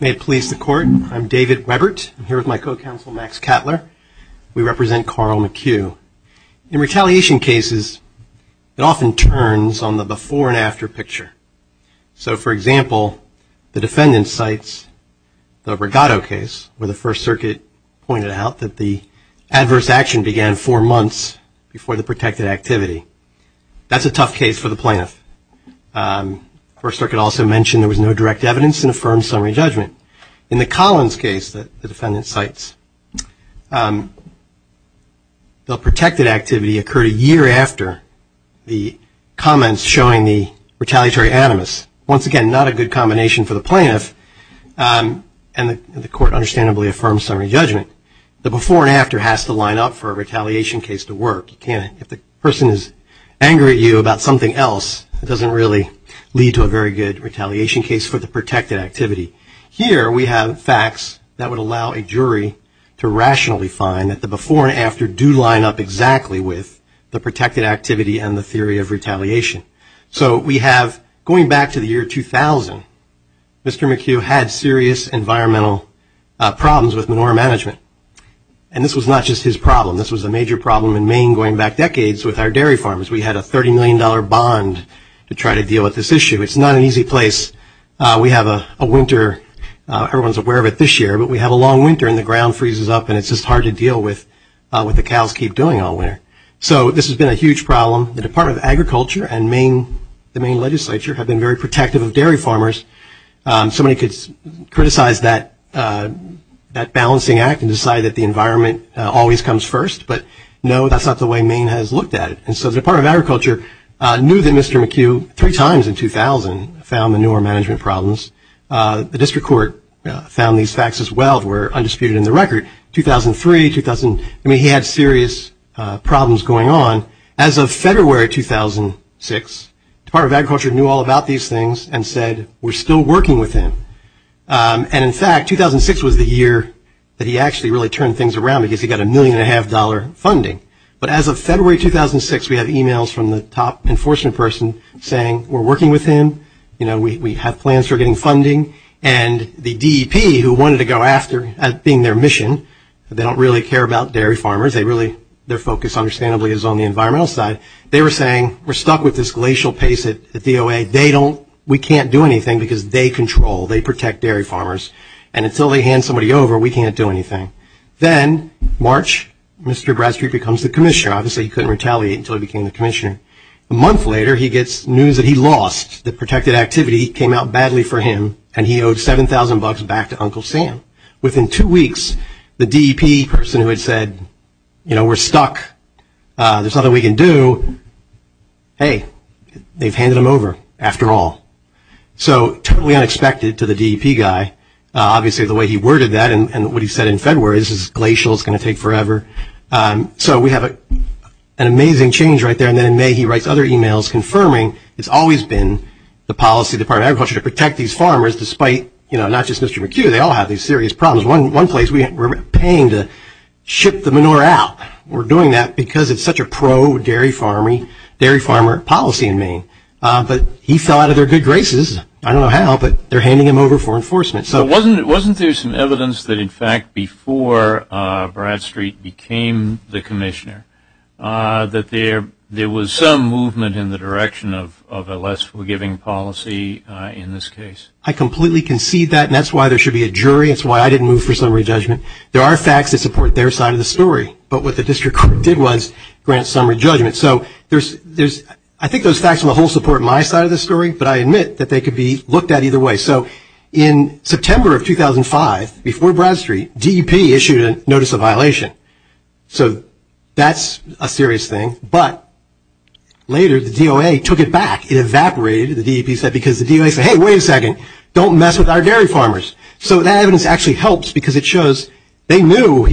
May it please the court, I'm David Webbert. I'm here with my co-counsel Max Catler. We So, for example, the defendant cites the Brigado case where the First Circuit pointed out that the adverse action began four months before the protected activity. That's a tough case for the plaintiff. First Circuit also mentioned there was no direct evidence and affirmed summary judgment. In the Collins case that the defendant cites, the protected activity occurred a year after the comments showing the retaliatory animus. Once again, not a good combination for the plaintiff. And the court understandably affirms summary judgment. The before and after has to line up for a retaliation case to work. If the person is angry at you about something else, it doesn't really lead to a very good retaliation case for the protected activity. Here we have facts that would allow a jury to rationally find that the before and after do line up exactly with the protected activity and the theory of retaliation. So we have, going back to the year 2000, Mr. McHugh had serious environmental problems with manure management. And this was not just his problem. This was a major problem in Maine going back decades with our dairy farmers. We had a $30 million bond to try to deal with this issue. It's not an easy place. We have a winter, everyone's aware of it this year, but we have a long winter and the ground freezes up and it's just hard to deal with what the cows keep doing all winter. So this has been a huge problem. The Department of Agriculture and the Maine legislature have been very protective of dairy farmers. Somebody could criticize that balancing act and decide that the environment always comes first. But no, that's not the way Maine has looked at it. And so the Department of Agriculture knew that Mr. McHugh, three times in 2000, found manure management problems. The district court found these facts as well, were undisputed in the record. 2003, 2000, I mean, he had serious problems going on. As of February 2006, the Department of Agriculture knew all about these things and said, we're still working with him. And in fact, 2006 was the year that he actually really turned things around because he got a million and a half dollar funding. But as of February 2006, we had emails from the top enforcement person saying, we're working with him. We have plans for getting funding. And the DEP who wanted to go after being their mission, they don't really care about dairy farmers. They really, their focus understandably is on the environmental side. They were saying, we're stuck with this glacial pace at the DOA. They don't, we can't do anything because they control, they protect dairy farmers. And until they hand somebody over, we can't do anything. Then March, Mr. Bradstreet becomes the commissioner. Obviously, he couldn't retaliate until he became the commissioner. A month later, he gets news that he lost. The protected activity came out badly for him. And he owed 7,000 bucks back to Uncle Sam. Within two weeks, the DEP person who had said, you know, we're stuck. There's nothing we can do. Hey, they've handed him over after all. So totally unexpected to the DEP guy. Obviously, the way he worded that and what he said in February, this is glacial, it's going to take forever. So we have an amazing change right there. And then in May, he writes other emails confirming it's always been the policy of the Department of Agriculture to protect these farmers, despite, you know, not just Mr. McHugh, they all have these serious problems. One place, we're paying to ship the manure out. We're doing that because it's such a pro-dairy farmer policy in Maine. But he fell out of their good graces. I don't know how, but they're handing him over for enforcement. So wasn't there some evidence that, in fact, before Bradstreet became the commissioner, that there was some movement in the direction of a less forgiving policy in this case? I completely concede that, and that's why there should be a jury. That's why I didn't move for summary judgment. There are facts that support their side of the story. But what the district court did was grant summary judgment. So I think those facts on the whole support my side of the story, but I admit that they could be looked at either way. So in September of 2005, before Bradstreet, DEP issued a notice of violation. So that's a serious thing. But later, the DOA took it back. It evaporated, the DEP said, because the DOA said, hey, wait a second, don't mess with our dairy farmers. So that evidence actually helps because it shows they knew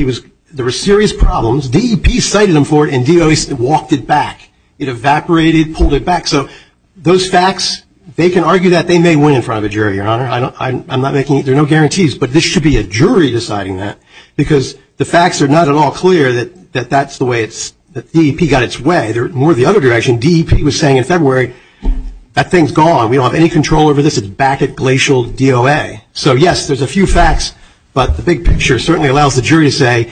there were serious problems. DEP cited them for it, and DOA walked it back. It evaporated, pulled it back. So those facts, they can argue that they may win in front of a jury, Your Honor. I'm not making – there are no guarantees, but there should be a jury deciding that, because the facts are not at all clear that that's the way it's – that DEP got its way. They're more the other direction. DEP was saying in February, that thing's gone. We don't have any control over this. It's back at glacial DOA. So, yes, there's a few facts, but the big picture certainly allows the jury to say,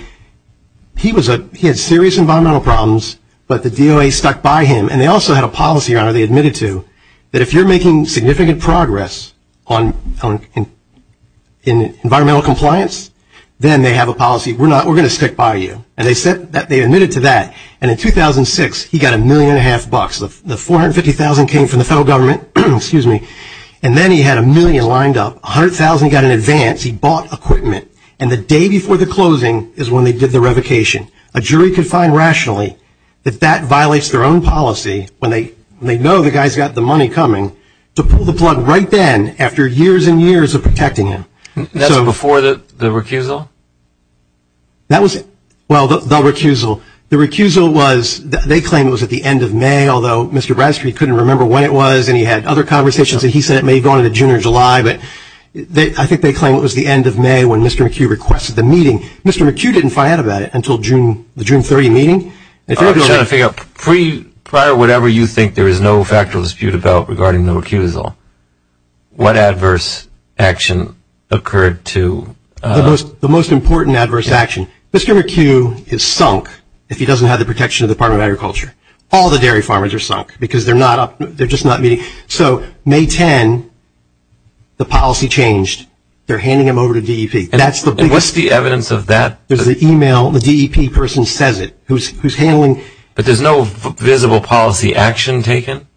he was a – he had serious environmental problems, but the DOA stuck by him. And they also had a policy, Your Honor, they admitted to, that if you're making significant progress on – in environmental compliance, then they have a policy. We're not – we're going to stick by you. And they said – they admitted to that. And in 2006, he got a million and a half bucks. The $450,000 came from the federal government, and then he had a million lined up. $100,000 he got in advance. He bought equipment. And the day before the closing is when they did the revocation. A jury could find rationally that that violates their own policy, when they know the guy's got the money coming, to pull the plug right then after years and years of protecting him. That's before the recusal? That was – well, the recusal. The recusal was – they claim it was at the end of May, although Mr. Bradstreet couldn't remember when it was, and he had other conversations, and he said it may have gone into June or July. But I think they claim it was the end of May when Mr. McHugh requested the meeting. Mr. McHugh didn't find out about it until the June 30 meeting. I'm trying to figure out, prior to whatever you think there is no factual dispute about regarding the recusal, what adverse action occurred to – The most important adverse action. Mr. McHugh is sunk if he doesn't have the protection of the Department of Agriculture. All the dairy farmers are sunk because they're not up – they're just not meeting. So May 10, the policy changed. They're handing him over to DEP. What's the evidence of that? There's an email. The DEP person says it, who's handling – But there's no visible policy action taken?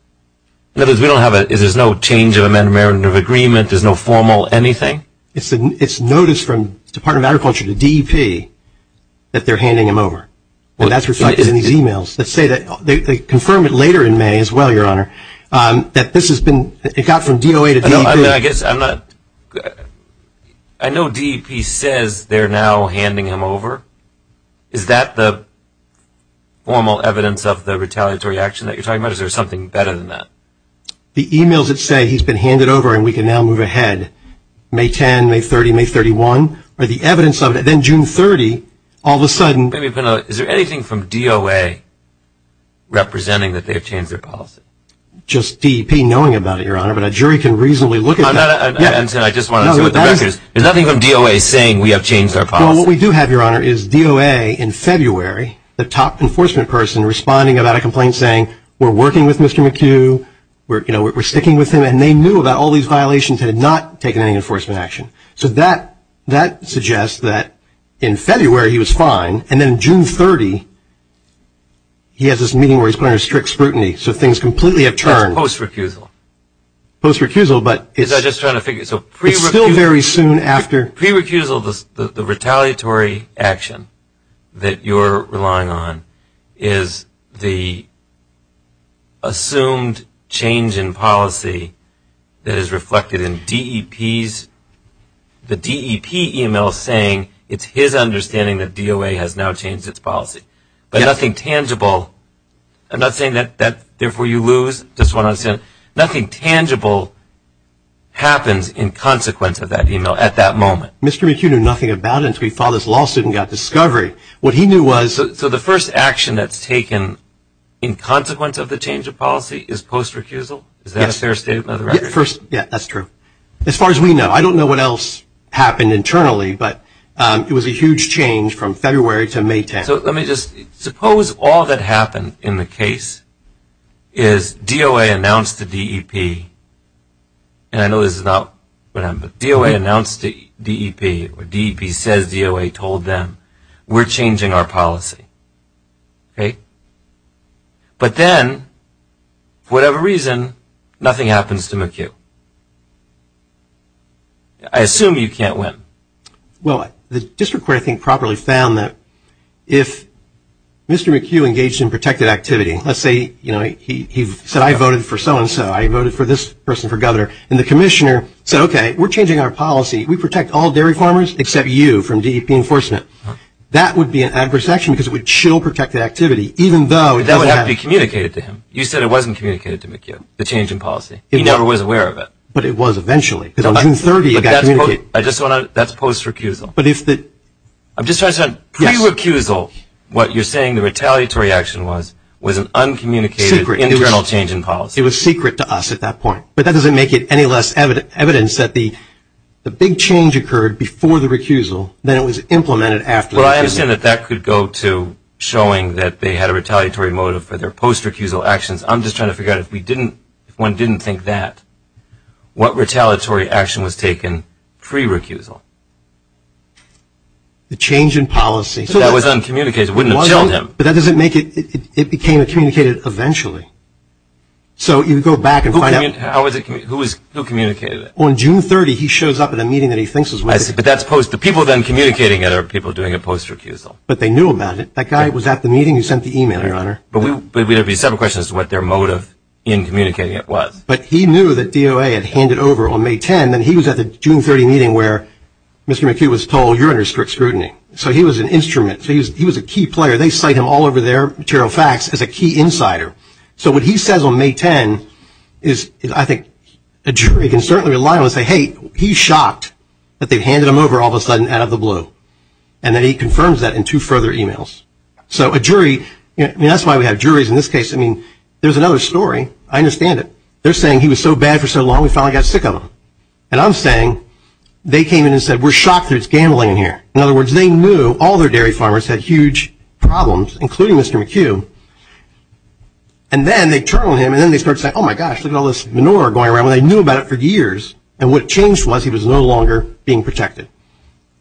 In other words, we don't have a – there's no change of amendment of agreement? There's no formal anything? It's notice from the Department of Agriculture to DEP that they're handing him over. And that's reflected in these emails that say that – they confirm it later in May as well, Your Honor, that this has been – it got from DOA to DEP. I guess I'm not – I know DEP says they're now handing him over. Is that the formal evidence of the retaliatory action that you're talking about, or is there something better than that? The emails that say he's been handed over and we can now move ahead, May 10, May 30, May 31, are the evidence of it. Then June 30, all of a sudden – Is there anything from DOA representing that they have changed their policy? Just DEP knowing about it, Your Honor, but a jury can reasonably look at that. I just wanted to see what the record is. There's nothing from DOA saying we have changed our policy? Well, what we do have, Your Honor, is DOA in February, the top enforcement person responding about a complaint saying, we're working with Mr. McHugh, we're sticking with him, and they knew about all these violations and had not taken any enforcement action. So that suggests that in February he was fine, and then June 30 he has this meeting where he's put under strict scrutiny, so things completely have turned. That's post-recusal? Post-recusal, but it's still very soon after. Pre-recusal, the retaliatory action that you're relying on, is the assumed change in policy that is reflected in DEP's – the DEP email saying it's his understanding that DOA has now changed its policy. But nothing tangible – I'm not saying that therefore you lose. Nothing tangible happens in consequence of that email at that moment. Mr. McHugh knew nothing about it until he filed this lawsuit and got discovery. What he knew was – So the first action that's taken in consequence of the change of policy is post-recusal? Yes. Is that a fair statement of the record? Yeah, that's true. As far as we know. I don't know what else happened internally, but it was a huge change from February to May 10. Suppose all that happened in the case is DOA announced to DEP, and I know this is not what happened, but DOA announced to DEP, or DEP says DOA told them, we're changing our policy. But then, for whatever reason, nothing happens to McHugh. I assume you can't win. Well, the district court, I think, properly found that if Mr. McHugh engaged in protected activity, let's say he said, I voted for so-and-so, I voted for this person for governor, and the commissioner said, okay, we're changing our policy. We protect all dairy farmers except you from DEP enforcement. That would be an adverse action because it would chill protected activity even though it doesn't happen. That would have to be communicated to him. You said it wasn't communicated to McHugh, the change in policy. He never was aware of it. But it was eventually. That's post-recusal. I'm just trying to say, pre-recusal, what you're saying the retaliatory action was, was an uncommunicated internal change in policy. It was secret to us at that point. But that doesn't make it any less evidence that the big change occurred before the recusal than it was implemented after the recusal. Well, I understand that that could go to showing that they had a retaliatory motive for their post-recusal actions. I'm just trying to figure out if we didn't, if one didn't think that, what retaliatory action was taken pre-recusal? The change in policy. That was uncommunicated. It wouldn't have chilled him. But that doesn't make it. It became communicated eventually. So you go back and find out. Who communicated it? On June 30, he shows up at a meeting that he thinks was. But that's post. The people then communicating it are people doing it post-recusal. But they knew about it. That guy was at the meeting. He sent the email, Your Honor. But there would be several questions as to what their motive in communicating it was. But he knew that DOA had handed over on May 10. And he was at the June 30 meeting where Mr. McHugh was told, You're under strict scrutiny. So he was an instrument. He was a key player. They cite him all over their material facts as a key insider. So what he says on May 10 is, I think, a jury can certainly rely on and say, Hey, he's shocked that they've handed him over all of a sudden out of the blue. And then he confirms that in two further emails. So a jury ñ and that's why we have juries in this case. I mean, there's another story. I understand it. They're saying he was so bad for so long we finally got sick of him. And I'm saying they came in and said, We're shocked that it's gambling in here. In other words, they knew all their dairy farmers had huge problems, including Mr. McHugh. And then they turn on him and then they start saying, Oh, my gosh, look at all this manure going around. Well, they knew about it for years. And what changed was he was no longer being protected.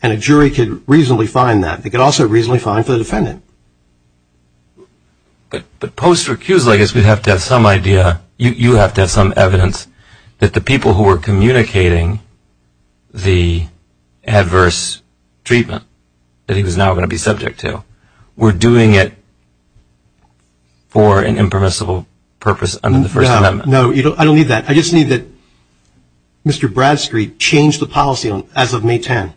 And a jury could reasonably find that. They could also reasonably find for the defendant. But post recusal, I guess we have to have some idea, you have to have some evidence, that the people who were communicating the adverse treatment that he was now going to be subject to were doing it for an impermissible purpose under the First Amendment. No, I don't need that. I just need that Mr. Bradstreet changed the policy as of May 10.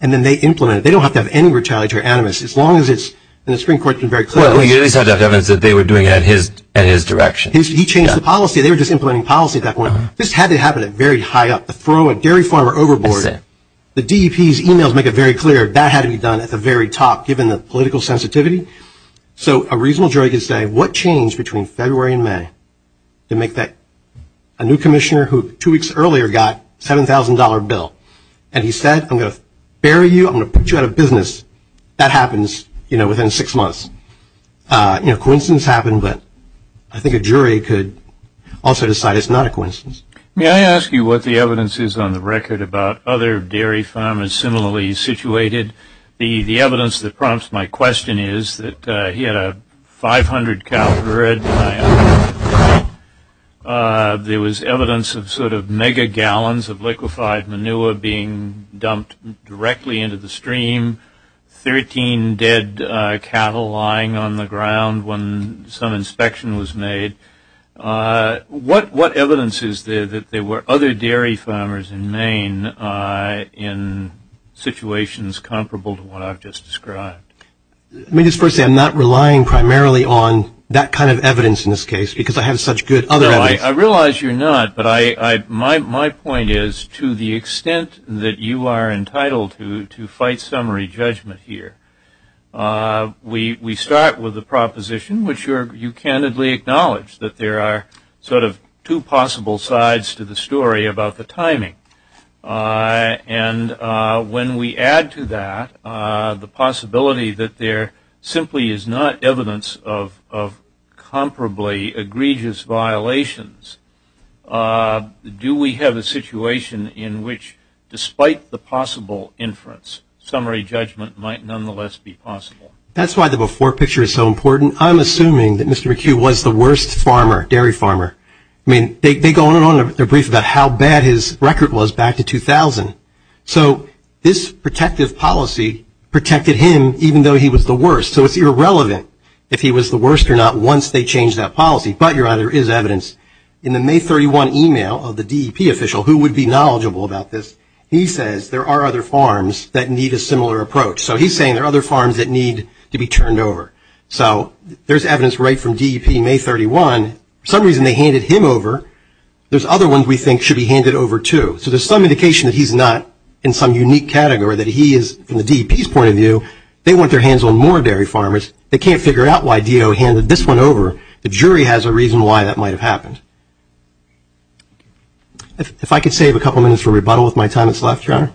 And then they implemented it. They don't have to have any retaliatory animus. As long as it's in the Supreme Court, it's been very clear. Well, you at least have to have evidence that they were doing it in his direction. He changed the policy. They were just implementing policy at that point. This had to happen at very high up. The throw a dairy farmer overboard. The DEP's emails make it very clear that had to be done at the very top, given the political sensitivity. So a reasonable jury could say, What changed between February and May to make that? A new commissioner who two weeks earlier got a $7,000 bill. And he said, I'm going to bury you. I'm going to put you out of business. That happens, you know, within six months. You know, coincidence happened. But I think a jury could also decide it's not a coincidence. May I ask you what the evidence is on the record about other dairy farmers similarly situated? The evidence that prompts my question is that he had a 500-caliber red eye. There was evidence of sort of mega gallons of liquefied manure being dumped directly into the stream. Thirteen dead cattle lying on the ground when some inspection was made. What evidence is there that there were other dairy farmers in Maine in situations comparable to what I've just described? Let me just first say I'm not relying primarily on that kind of evidence in this case because I have such good other evidence. I realize you're not, but my point is to the extent that you are entitled to fight summary judgment here, we start with a proposition which you candidly acknowledge, that there are sort of two possible sides to the story about the timing. And when we add to that the possibility that there simply is not evidence of comparably egregious violations, do we have a situation in which despite the possible inference, summary judgment might nonetheless be possible? That's why the before picture is so important. I'm assuming that Mr. McHugh was the worst farmer, dairy farmer. I mean, they go on and on in their brief about how bad his record was back to 2000. So this protective policy protected him even though he was the worst. So it's irrelevant if he was the worst or not once they changed that policy, but your honor, there is evidence in the May 31 email of the DEP official who would be knowledgeable about this. He says there are other farms that need a similar approach. So he's saying there are other farms that need to be turned over. So there's evidence right from DEP May 31. For some reason they handed him over. There's other ones we think should be handed over too. So there's some indication that he's not in some unique category, that he is, from the DEP's point of view, they want their hands on more dairy farmers. They can't figure out why DO handed this one over. The jury has a reason why that might have happened. If I could save a couple minutes for rebuttal with my time that's left, your honor.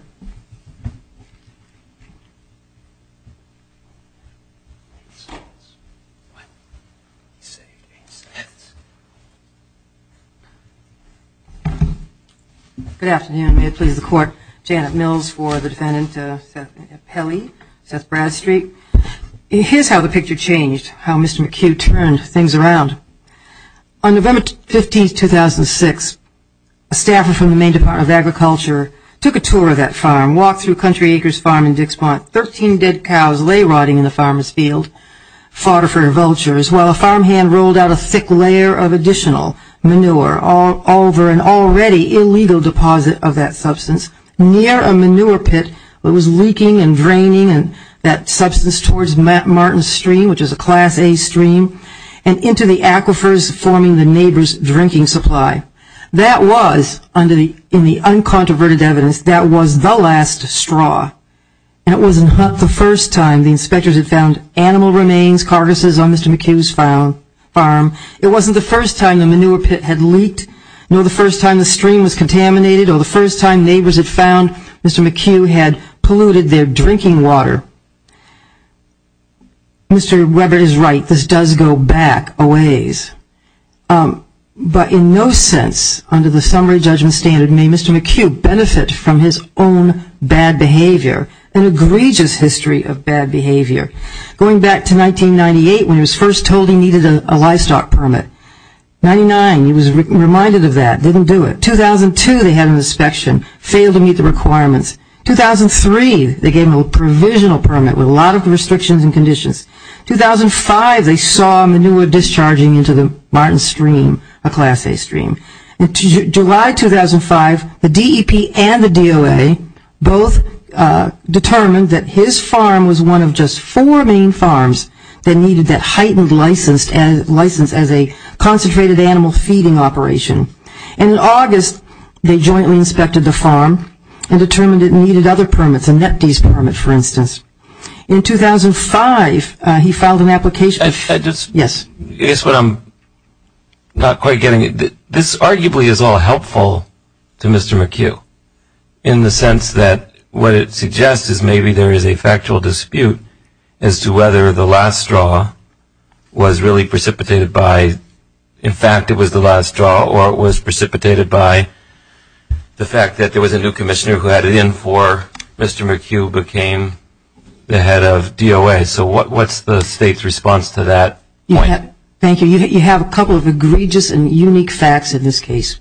Good afternoon. May it please the Court. Janet Mills for the defendant, Pelley, Seth Bradstreet. Here's how the picture changed, how Mr. McHugh turned things around. On November 15, 2006, a staffer from the Maine Department of Agriculture took a tour of that farm, walked through Country Acres Farm in Dixmont. Thirteen dead cows lay rotting in the farmer's field, fodder for vultures, while a farmhand rolled out a thick layer of additional manure over an already illegal deposit of that substance near a manure pit that was leaking and draining that substance towards Martin Stream, which is a Class A stream, and into the aquifers forming the neighbor's drinking supply. That was, in the uncontroverted evidence, that was the last straw. And it wasn't the first time the inspectors had found animal remains, carcasses, on Mr. McHugh's farm. It wasn't the first time the manure pit had leaked, nor the first time the stream was contaminated, nor the first time neighbors had found Mr. McHugh had polluted their drinking water. Mr. Webber is right. This does go back a ways. But in no sense, under the summary judgment standard, may Mr. McHugh benefit from his own bad behavior, an egregious history of bad behavior. Going back to 1998, when he was first told he needed a livestock permit. 1999, he was reminded of that, didn't do it. 2002, they had an inspection, failed to meet the requirements. 2003, they gave him a provisional permit with a lot of restrictions and conditions. 2005, they saw manure discharging into the Martin Stream, a Class A stream. July 2005, the DEP and the DOA both determined that his farm was one of just four main farms that needed that heightened license as a concentrated animal feeding operation. And in August, they jointly inspected the farm and determined it needed other permits, a NEPDES permit, for instance. In 2005, he filed an application. Yes. I guess what I'm not quite getting at, this arguably is all helpful to Mr. McHugh, in the sense that what it suggests is maybe there is a factual dispute as to whether the last straw was really precipitated by, in fact, it was the last straw or it was precipitated by the fact that there was a new commissioner who added in for Mr. McHugh who became the head of DOA. So what's the state's response to that point? Thank you. You have a couple of egregious and unique facts in this case.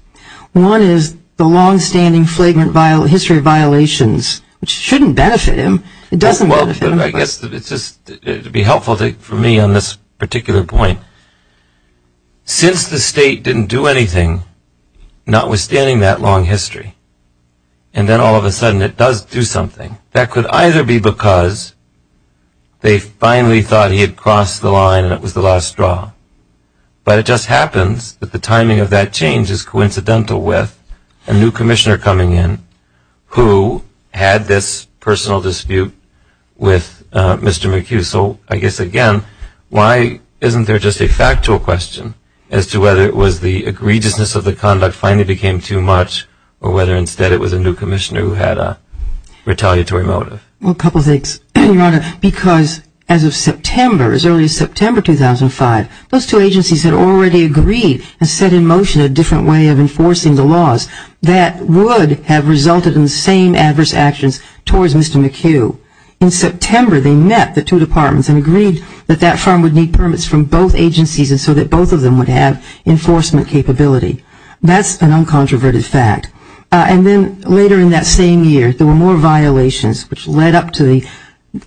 One is the longstanding flagrant history of violations, which shouldn't benefit him. I guess it would be helpful for me on this particular point. Since the state didn't do anything, notwithstanding that long history, and then all of a sudden it does do something, that could either be because they finally thought he had crossed the line and it was the last straw. But it just happens that the timing of that change is coincidental with a new commissioner coming in who had this personal dispute with Mr. McHugh. So I guess, again, why isn't there just a factual question as to whether it was the egregiousness of the conduct finally became too much or whether instead it was a new commissioner who had a retaliatory motive? Well, a couple of things, Your Honor, because as of September, as early as September 2005, those two agencies had already agreed and set in motion a different way of enforcing the laws that would have resulted in the same adverse actions towards Mr. McHugh. In September, they met the two departments and agreed that that firm would need permits from both agencies and so that both of them would have enforcement capability. That's an uncontroverted fact. And then later in that same year, there were more violations, which led up to the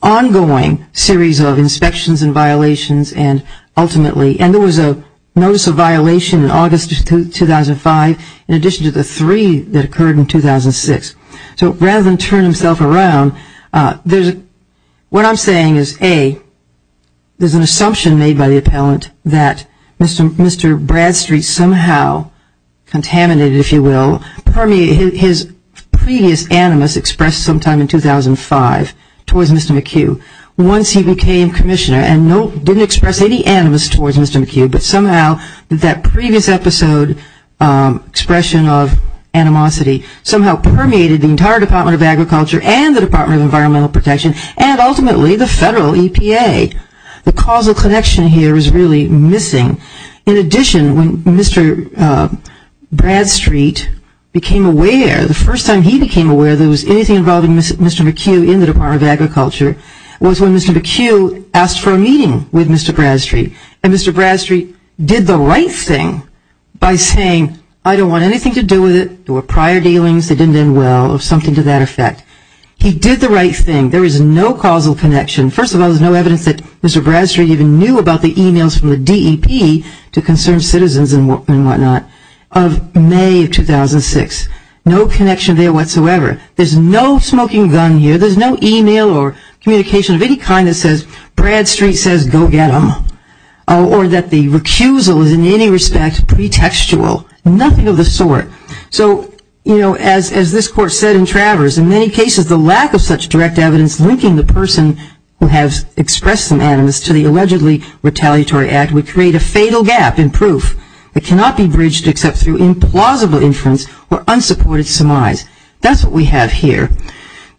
ongoing series of inspections and violations and ultimately and there was a notice of violation in August 2005 in addition to the three that occurred in 2006. So rather than turn himself around, what I'm saying is, A, there's an assumption made by the appellant that Mr. Bradstreet somehow contaminated, if you will, his previous animus expressed sometime in 2005 towards Mr. McHugh. Once he became commissioner and didn't express any animus towards Mr. McHugh, but somehow that previous episode expression of animosity somehow permeated the entire Department of Agriculture and the Department of Environmental Protection and ultimately the federal EPA. The causal connection here is really missing. In addition, when Mr. Bradstreet became aware, the first time he became aware there was anything involving Mr. McHugh in the Department of Agriculture was when Mr. McHugh asked for a meeting with Mr. Bradstreet. And Mr. Bradstreet did the right thing by saying, I don't want anything to do with it. There were prior dealings that didn't end well or something to that effect. He did the right thing. There is no causal connection. First of all, there's no evidence that Mr. Bradstreet even knew about the emails from the DEP to concerned citizens and whatnot. Of May of 2006, no connection there whatsoever. There's no smoking gun here. There's no email or communication of any kind that says Bradstreet says go get him. Or that the recusal is in any respect pretextual. Nothing of the sort. So, you know, as this court said in Travers, in many cases the lack of such direct evidence linking the person who has expressed some animus to the allegedly retaliatory act would create a fatal gap in proof. It cannot be bridged except through implausible inference or unsupported surmise. That's what we have here.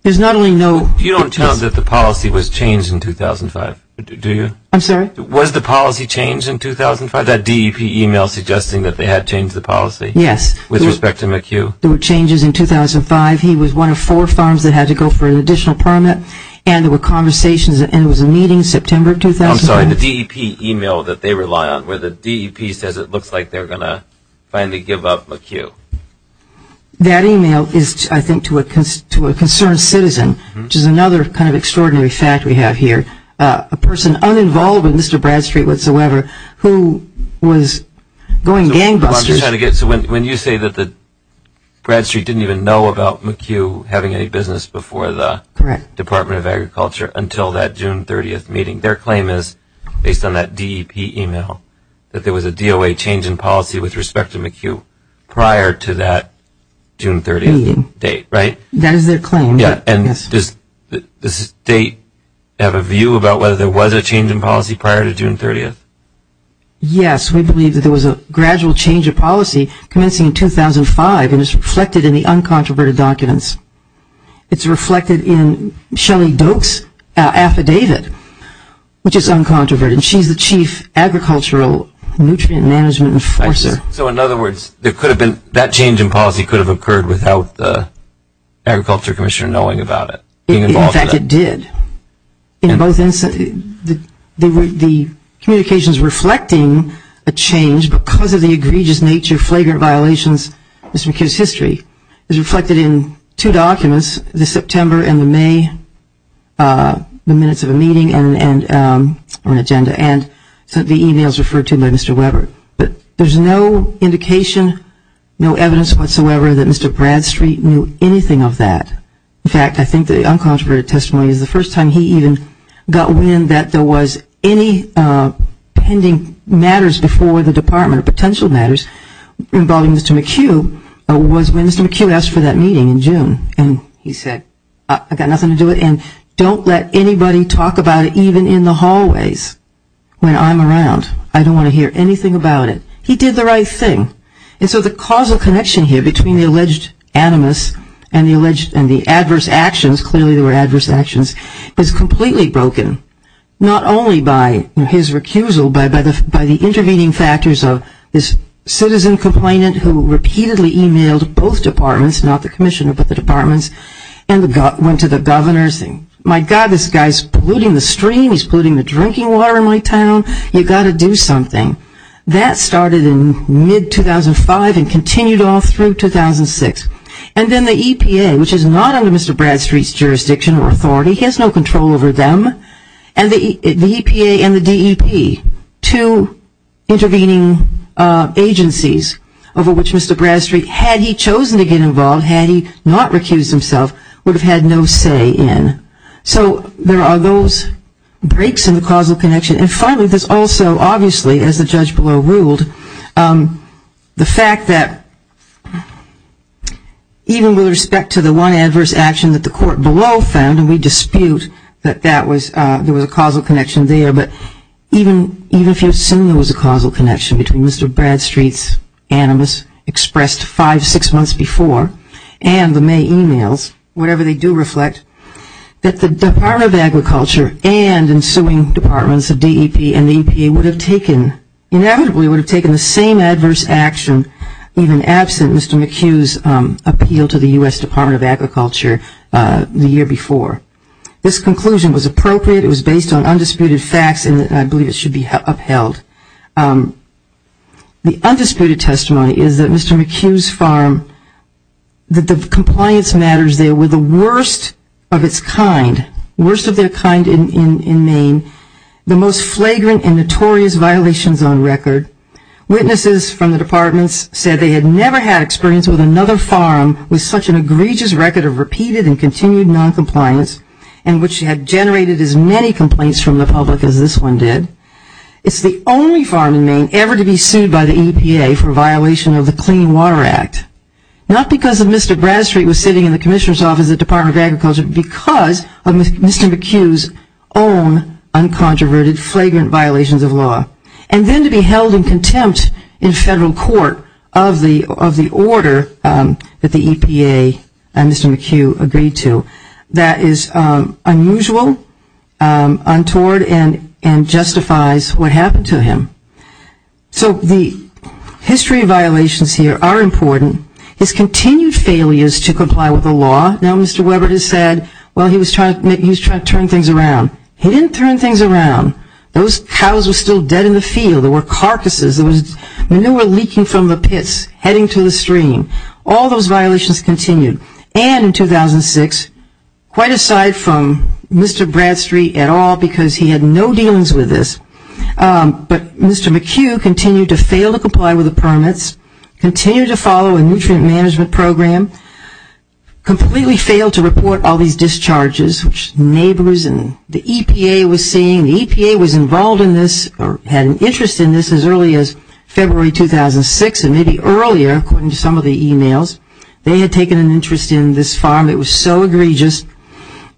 There's not only no... You don't tell us that the policy was changed in 2005, do you? I'm sorry? Was the policy changed in 2005? That DEP email suggesting that they had changed the policy? Yes. With respect to McHugh? There were changes in 2005. He was one of four firms that had to go for an additional permit. And there were conversations and there was a meeting in September of 2005. I'm sorry, the DEP email that they rely on, where the DEP says it looks like they're going to finally give up McHugh. That email is, I think, to a concerned citizen, which is another kind of extraordinary fact we have here. A person uninvolved with Mr. Bradstreet whatsoever who was going gangbusters... So when you say that Bradstreet didn't even know about McHugh having any business before the Department of Agriculture until that June 30th meeting, their claim is, based on that DEP email, that there was a DOA change in policy with respect to McHugh prior to that June 30th date, right? That is their claim. And does the state have a view about whether there was a change in policy prior to June 30th? Yes, we believe that there was a gradual change of policy commencing in 2005, and it's reflected in the uncontroverted documents. It's reflected in Shelley Doak's affidavit, which is uncontroverted. She's the chief agricultural nutrient management enforcer. So in other words, that change in policy could have occurred without the Agriculture Commissioner knowing about it? In fact, it did. In both instances, the communications reflecting a change because of the egregious nature of flagrant violations of Mr. McHugh's history is reflected in two documents, the September and the May minutes of a meeting and an agenda, and the emails referred to by Mr. Weber. But there's no indication, no evidence whatsoever that Mr. Bradstreet knew anything of that. In fact, I think the uncontroverted testimony is the first time he even got wind that there was any pending matters before the Department of Potential Matters involving Mr. McHugh was when Mr. McHugh asked for that meeting in June, and he said, I've got nothing to do with it, and don't let anybody talk about it even in the hallways when I'm around. I don't want to hear anything about it. He did the right thing. And so the causal connection here between the alleged animus and the adverse actions, clearly there were adverse actions, is completely broken, not only by his recusal, but by the intervening factors of this citizen complainant who repeatedly emailed both departments, not the commissioner but the departments, and went to the governor saying, my God, this guy's polluting the stream. He's polluting the drinking water in my town. You've got to do something. That started in mid-2005 and continued on through 2006. And then the EPA, which is not under Mr. Bradstreet's jurisdiction or authority, he has no control over them, and the EPA and the DEP, two intervening agencies over which Mr. Bradstreet, had he chosen to get involved, had he not recused himself, would have had no say in. So there are those breaks in the causal connection. And finally, there's also obviously, as the judge below ruled, the fact that even with respect to the one adverse action that the court below found, and we dispute that there was a causal connection there, but even if you assume there was a causal connection between Mr. Bradstreet's animus expressed five, six months before and the May emails, whatever they do reflect, that the Department of Agriculture and ensuing departments of DEP and EPA would have taken, inevitably would have taken the same adverse action, even absent Mr. McHugh's appeal to the U.S. Department of Agriculture the year before. This conclusion was appropriate. It was based on undisputed facts, and I believe it should be upheld. The undisputed testimony is that Mr. McHugh's farm, that the compliance matters there were the worst of its kind, worst of their kind in Maine, the most flagrant and notorious violations on record. Witnesses from the departments said they had never had experience with another farm with such an egregious record of repeated and continued noncompliance, and which had generated as many complaints from the public as this one did. It's the only farm in Maine ever to be sued by the EPA for violation of the Clean Water Act, not because of Mr. Bradstreet was sitting in the commissioner's office at the Department of Agriculture, but because of Mr. McHugh's own uncontroverted, flagrant violations of law, and then to be held in contempt in federal court of the order that the EPA and Mr. McHugh agreed to. That is unusual, untoward, and justifies what happened to him. So the history of violations here are important. His continued failures to comply with the law. Now, Mr. Webber has said, well, he was trying to turn things around. He didn't turn things around. Those cows were still dead in the field. There were carcasses. There was manure leaking from the pits heading to the stream. All those violations continued. And in 2006, quite aside from Mr. Bradstreet at all because he had no dealings with this, but Mr. McHugh continued to fail to comply with the permits, continued to follow a nutrient management program, completely failed to report all these discharges which neighbors and the EPA was seeing. The EPA was involved in this or had an interest in this as early as February 2006 and maybe earlier according to some of the emails. They had taken an interest in this farm. It was so egregious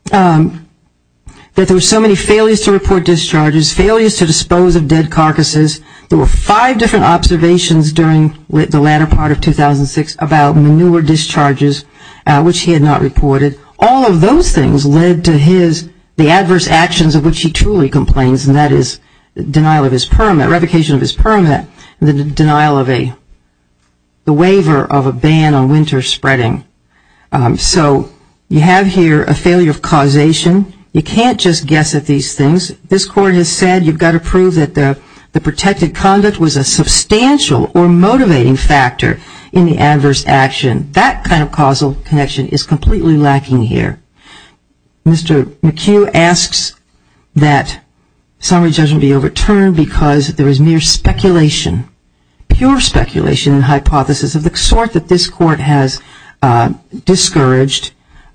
that there were so many failures to report discharges, failures to dispose of dead carcasses. There were five different observations during the latter part of 2006 about manure discharges, which he had not reported. All of those things led to his, the adverse actions of which he truly complains, and that is the denial of his permit, revocation of his permit, and the denial of a, the waiver of a ban on winter spreading. So you have here a failure of causation. You can't just guess at these things. This court has said you've got to prove that the protected conduct was a substantial or motivating factor in the adverse action. That kind of causal connection is completely lacking here. Mr. McHugh asks that summary judgment be overturned because there is mere speculation, pure speculation and hypothesis of the sort that this court has discouraged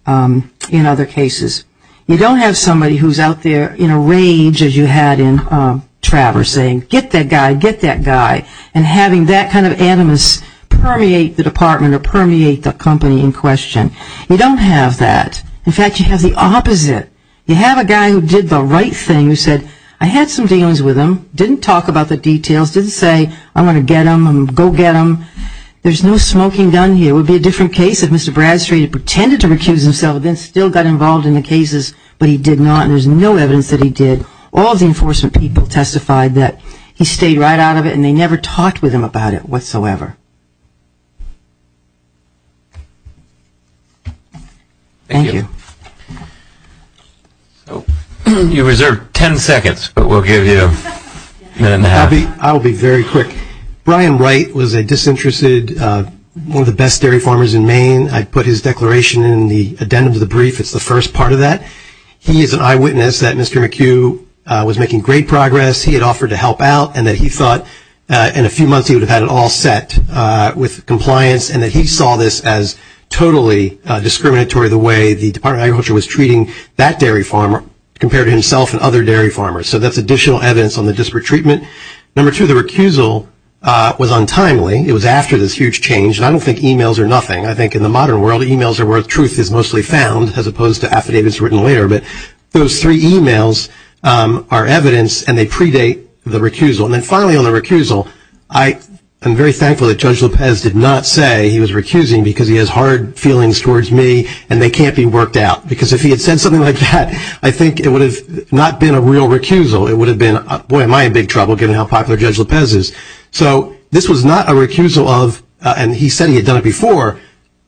in other cases. You don't have somebody who is out there in a rage as you had in Travers saying, get that guy, get that guy, and having that kind of animus permeate the department or permeate the company in question. You don't have that. In fact, you have the opposite. You have a guy who did the right thing, who said, I had some dealings with him, didn't talk about the details, didn't say I'm going to get him and go get him. There's no smoking gun here. It would be a different case if Mr. Bradstreet had pretended to recuse himself and then still got involved in the cases, but he did not. There's no evidence that he did. All of the enforcement people testified that he stayed right out of it and they never talked with him about it whatsoever. Thank you. You reserve 10 seconds, but we'll give you a minute and a half. I'll be very quick. Brian Wright was a disinterested, one of the best dairy farmers in Maine. I put his declaration in the addendum to the brief. It's the first part of that. He is an eyewitness that Mr. McHugh was making great progress. He had offered to help out and that he thought in a few months he would have had it all set with compliance and that he saw this as totally discriminatory the way the Department of Agriculture was treating that dairy farmer compared to himself and other dairy farmers. So that's additional evidence on the disparate treatment. Number two, the recusal was untimely. It was after this huge change, and I don't think e-mails are nothing. I think in the modern world, e-mails are where truth is mostly found as opposed to affidavits written later. But those three e-mails are evidence and they predate the recusal. And then finally on the recusal, I am very thankful that Judge Lopez did not say he was recusing because he has hard feelings towards me and they can't be worked out. Because if he had said something like that, I think it would have not been a real recusal. It would have been, boy, am I in big trouble given how popular Judge Lopez is. So this was not a recusal of, and he said he had done it before,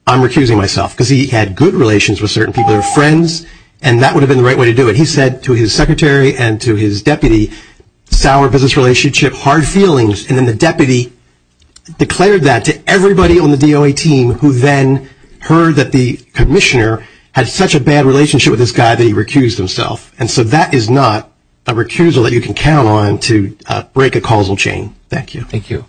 I'm recusing myself. Because he had good relations with certain people. They were friends, and that would have been the right way to do it. He said to his secretary and to his deputy, sour business relationship, hard feelings. And then the deputy declared that to everybody on the DOA team who then heard that the commissioner had such a bad relationship with this guy that he recused himself. And so that is not a recusal that you can count on to break a causal chain. Thank you. Thank you.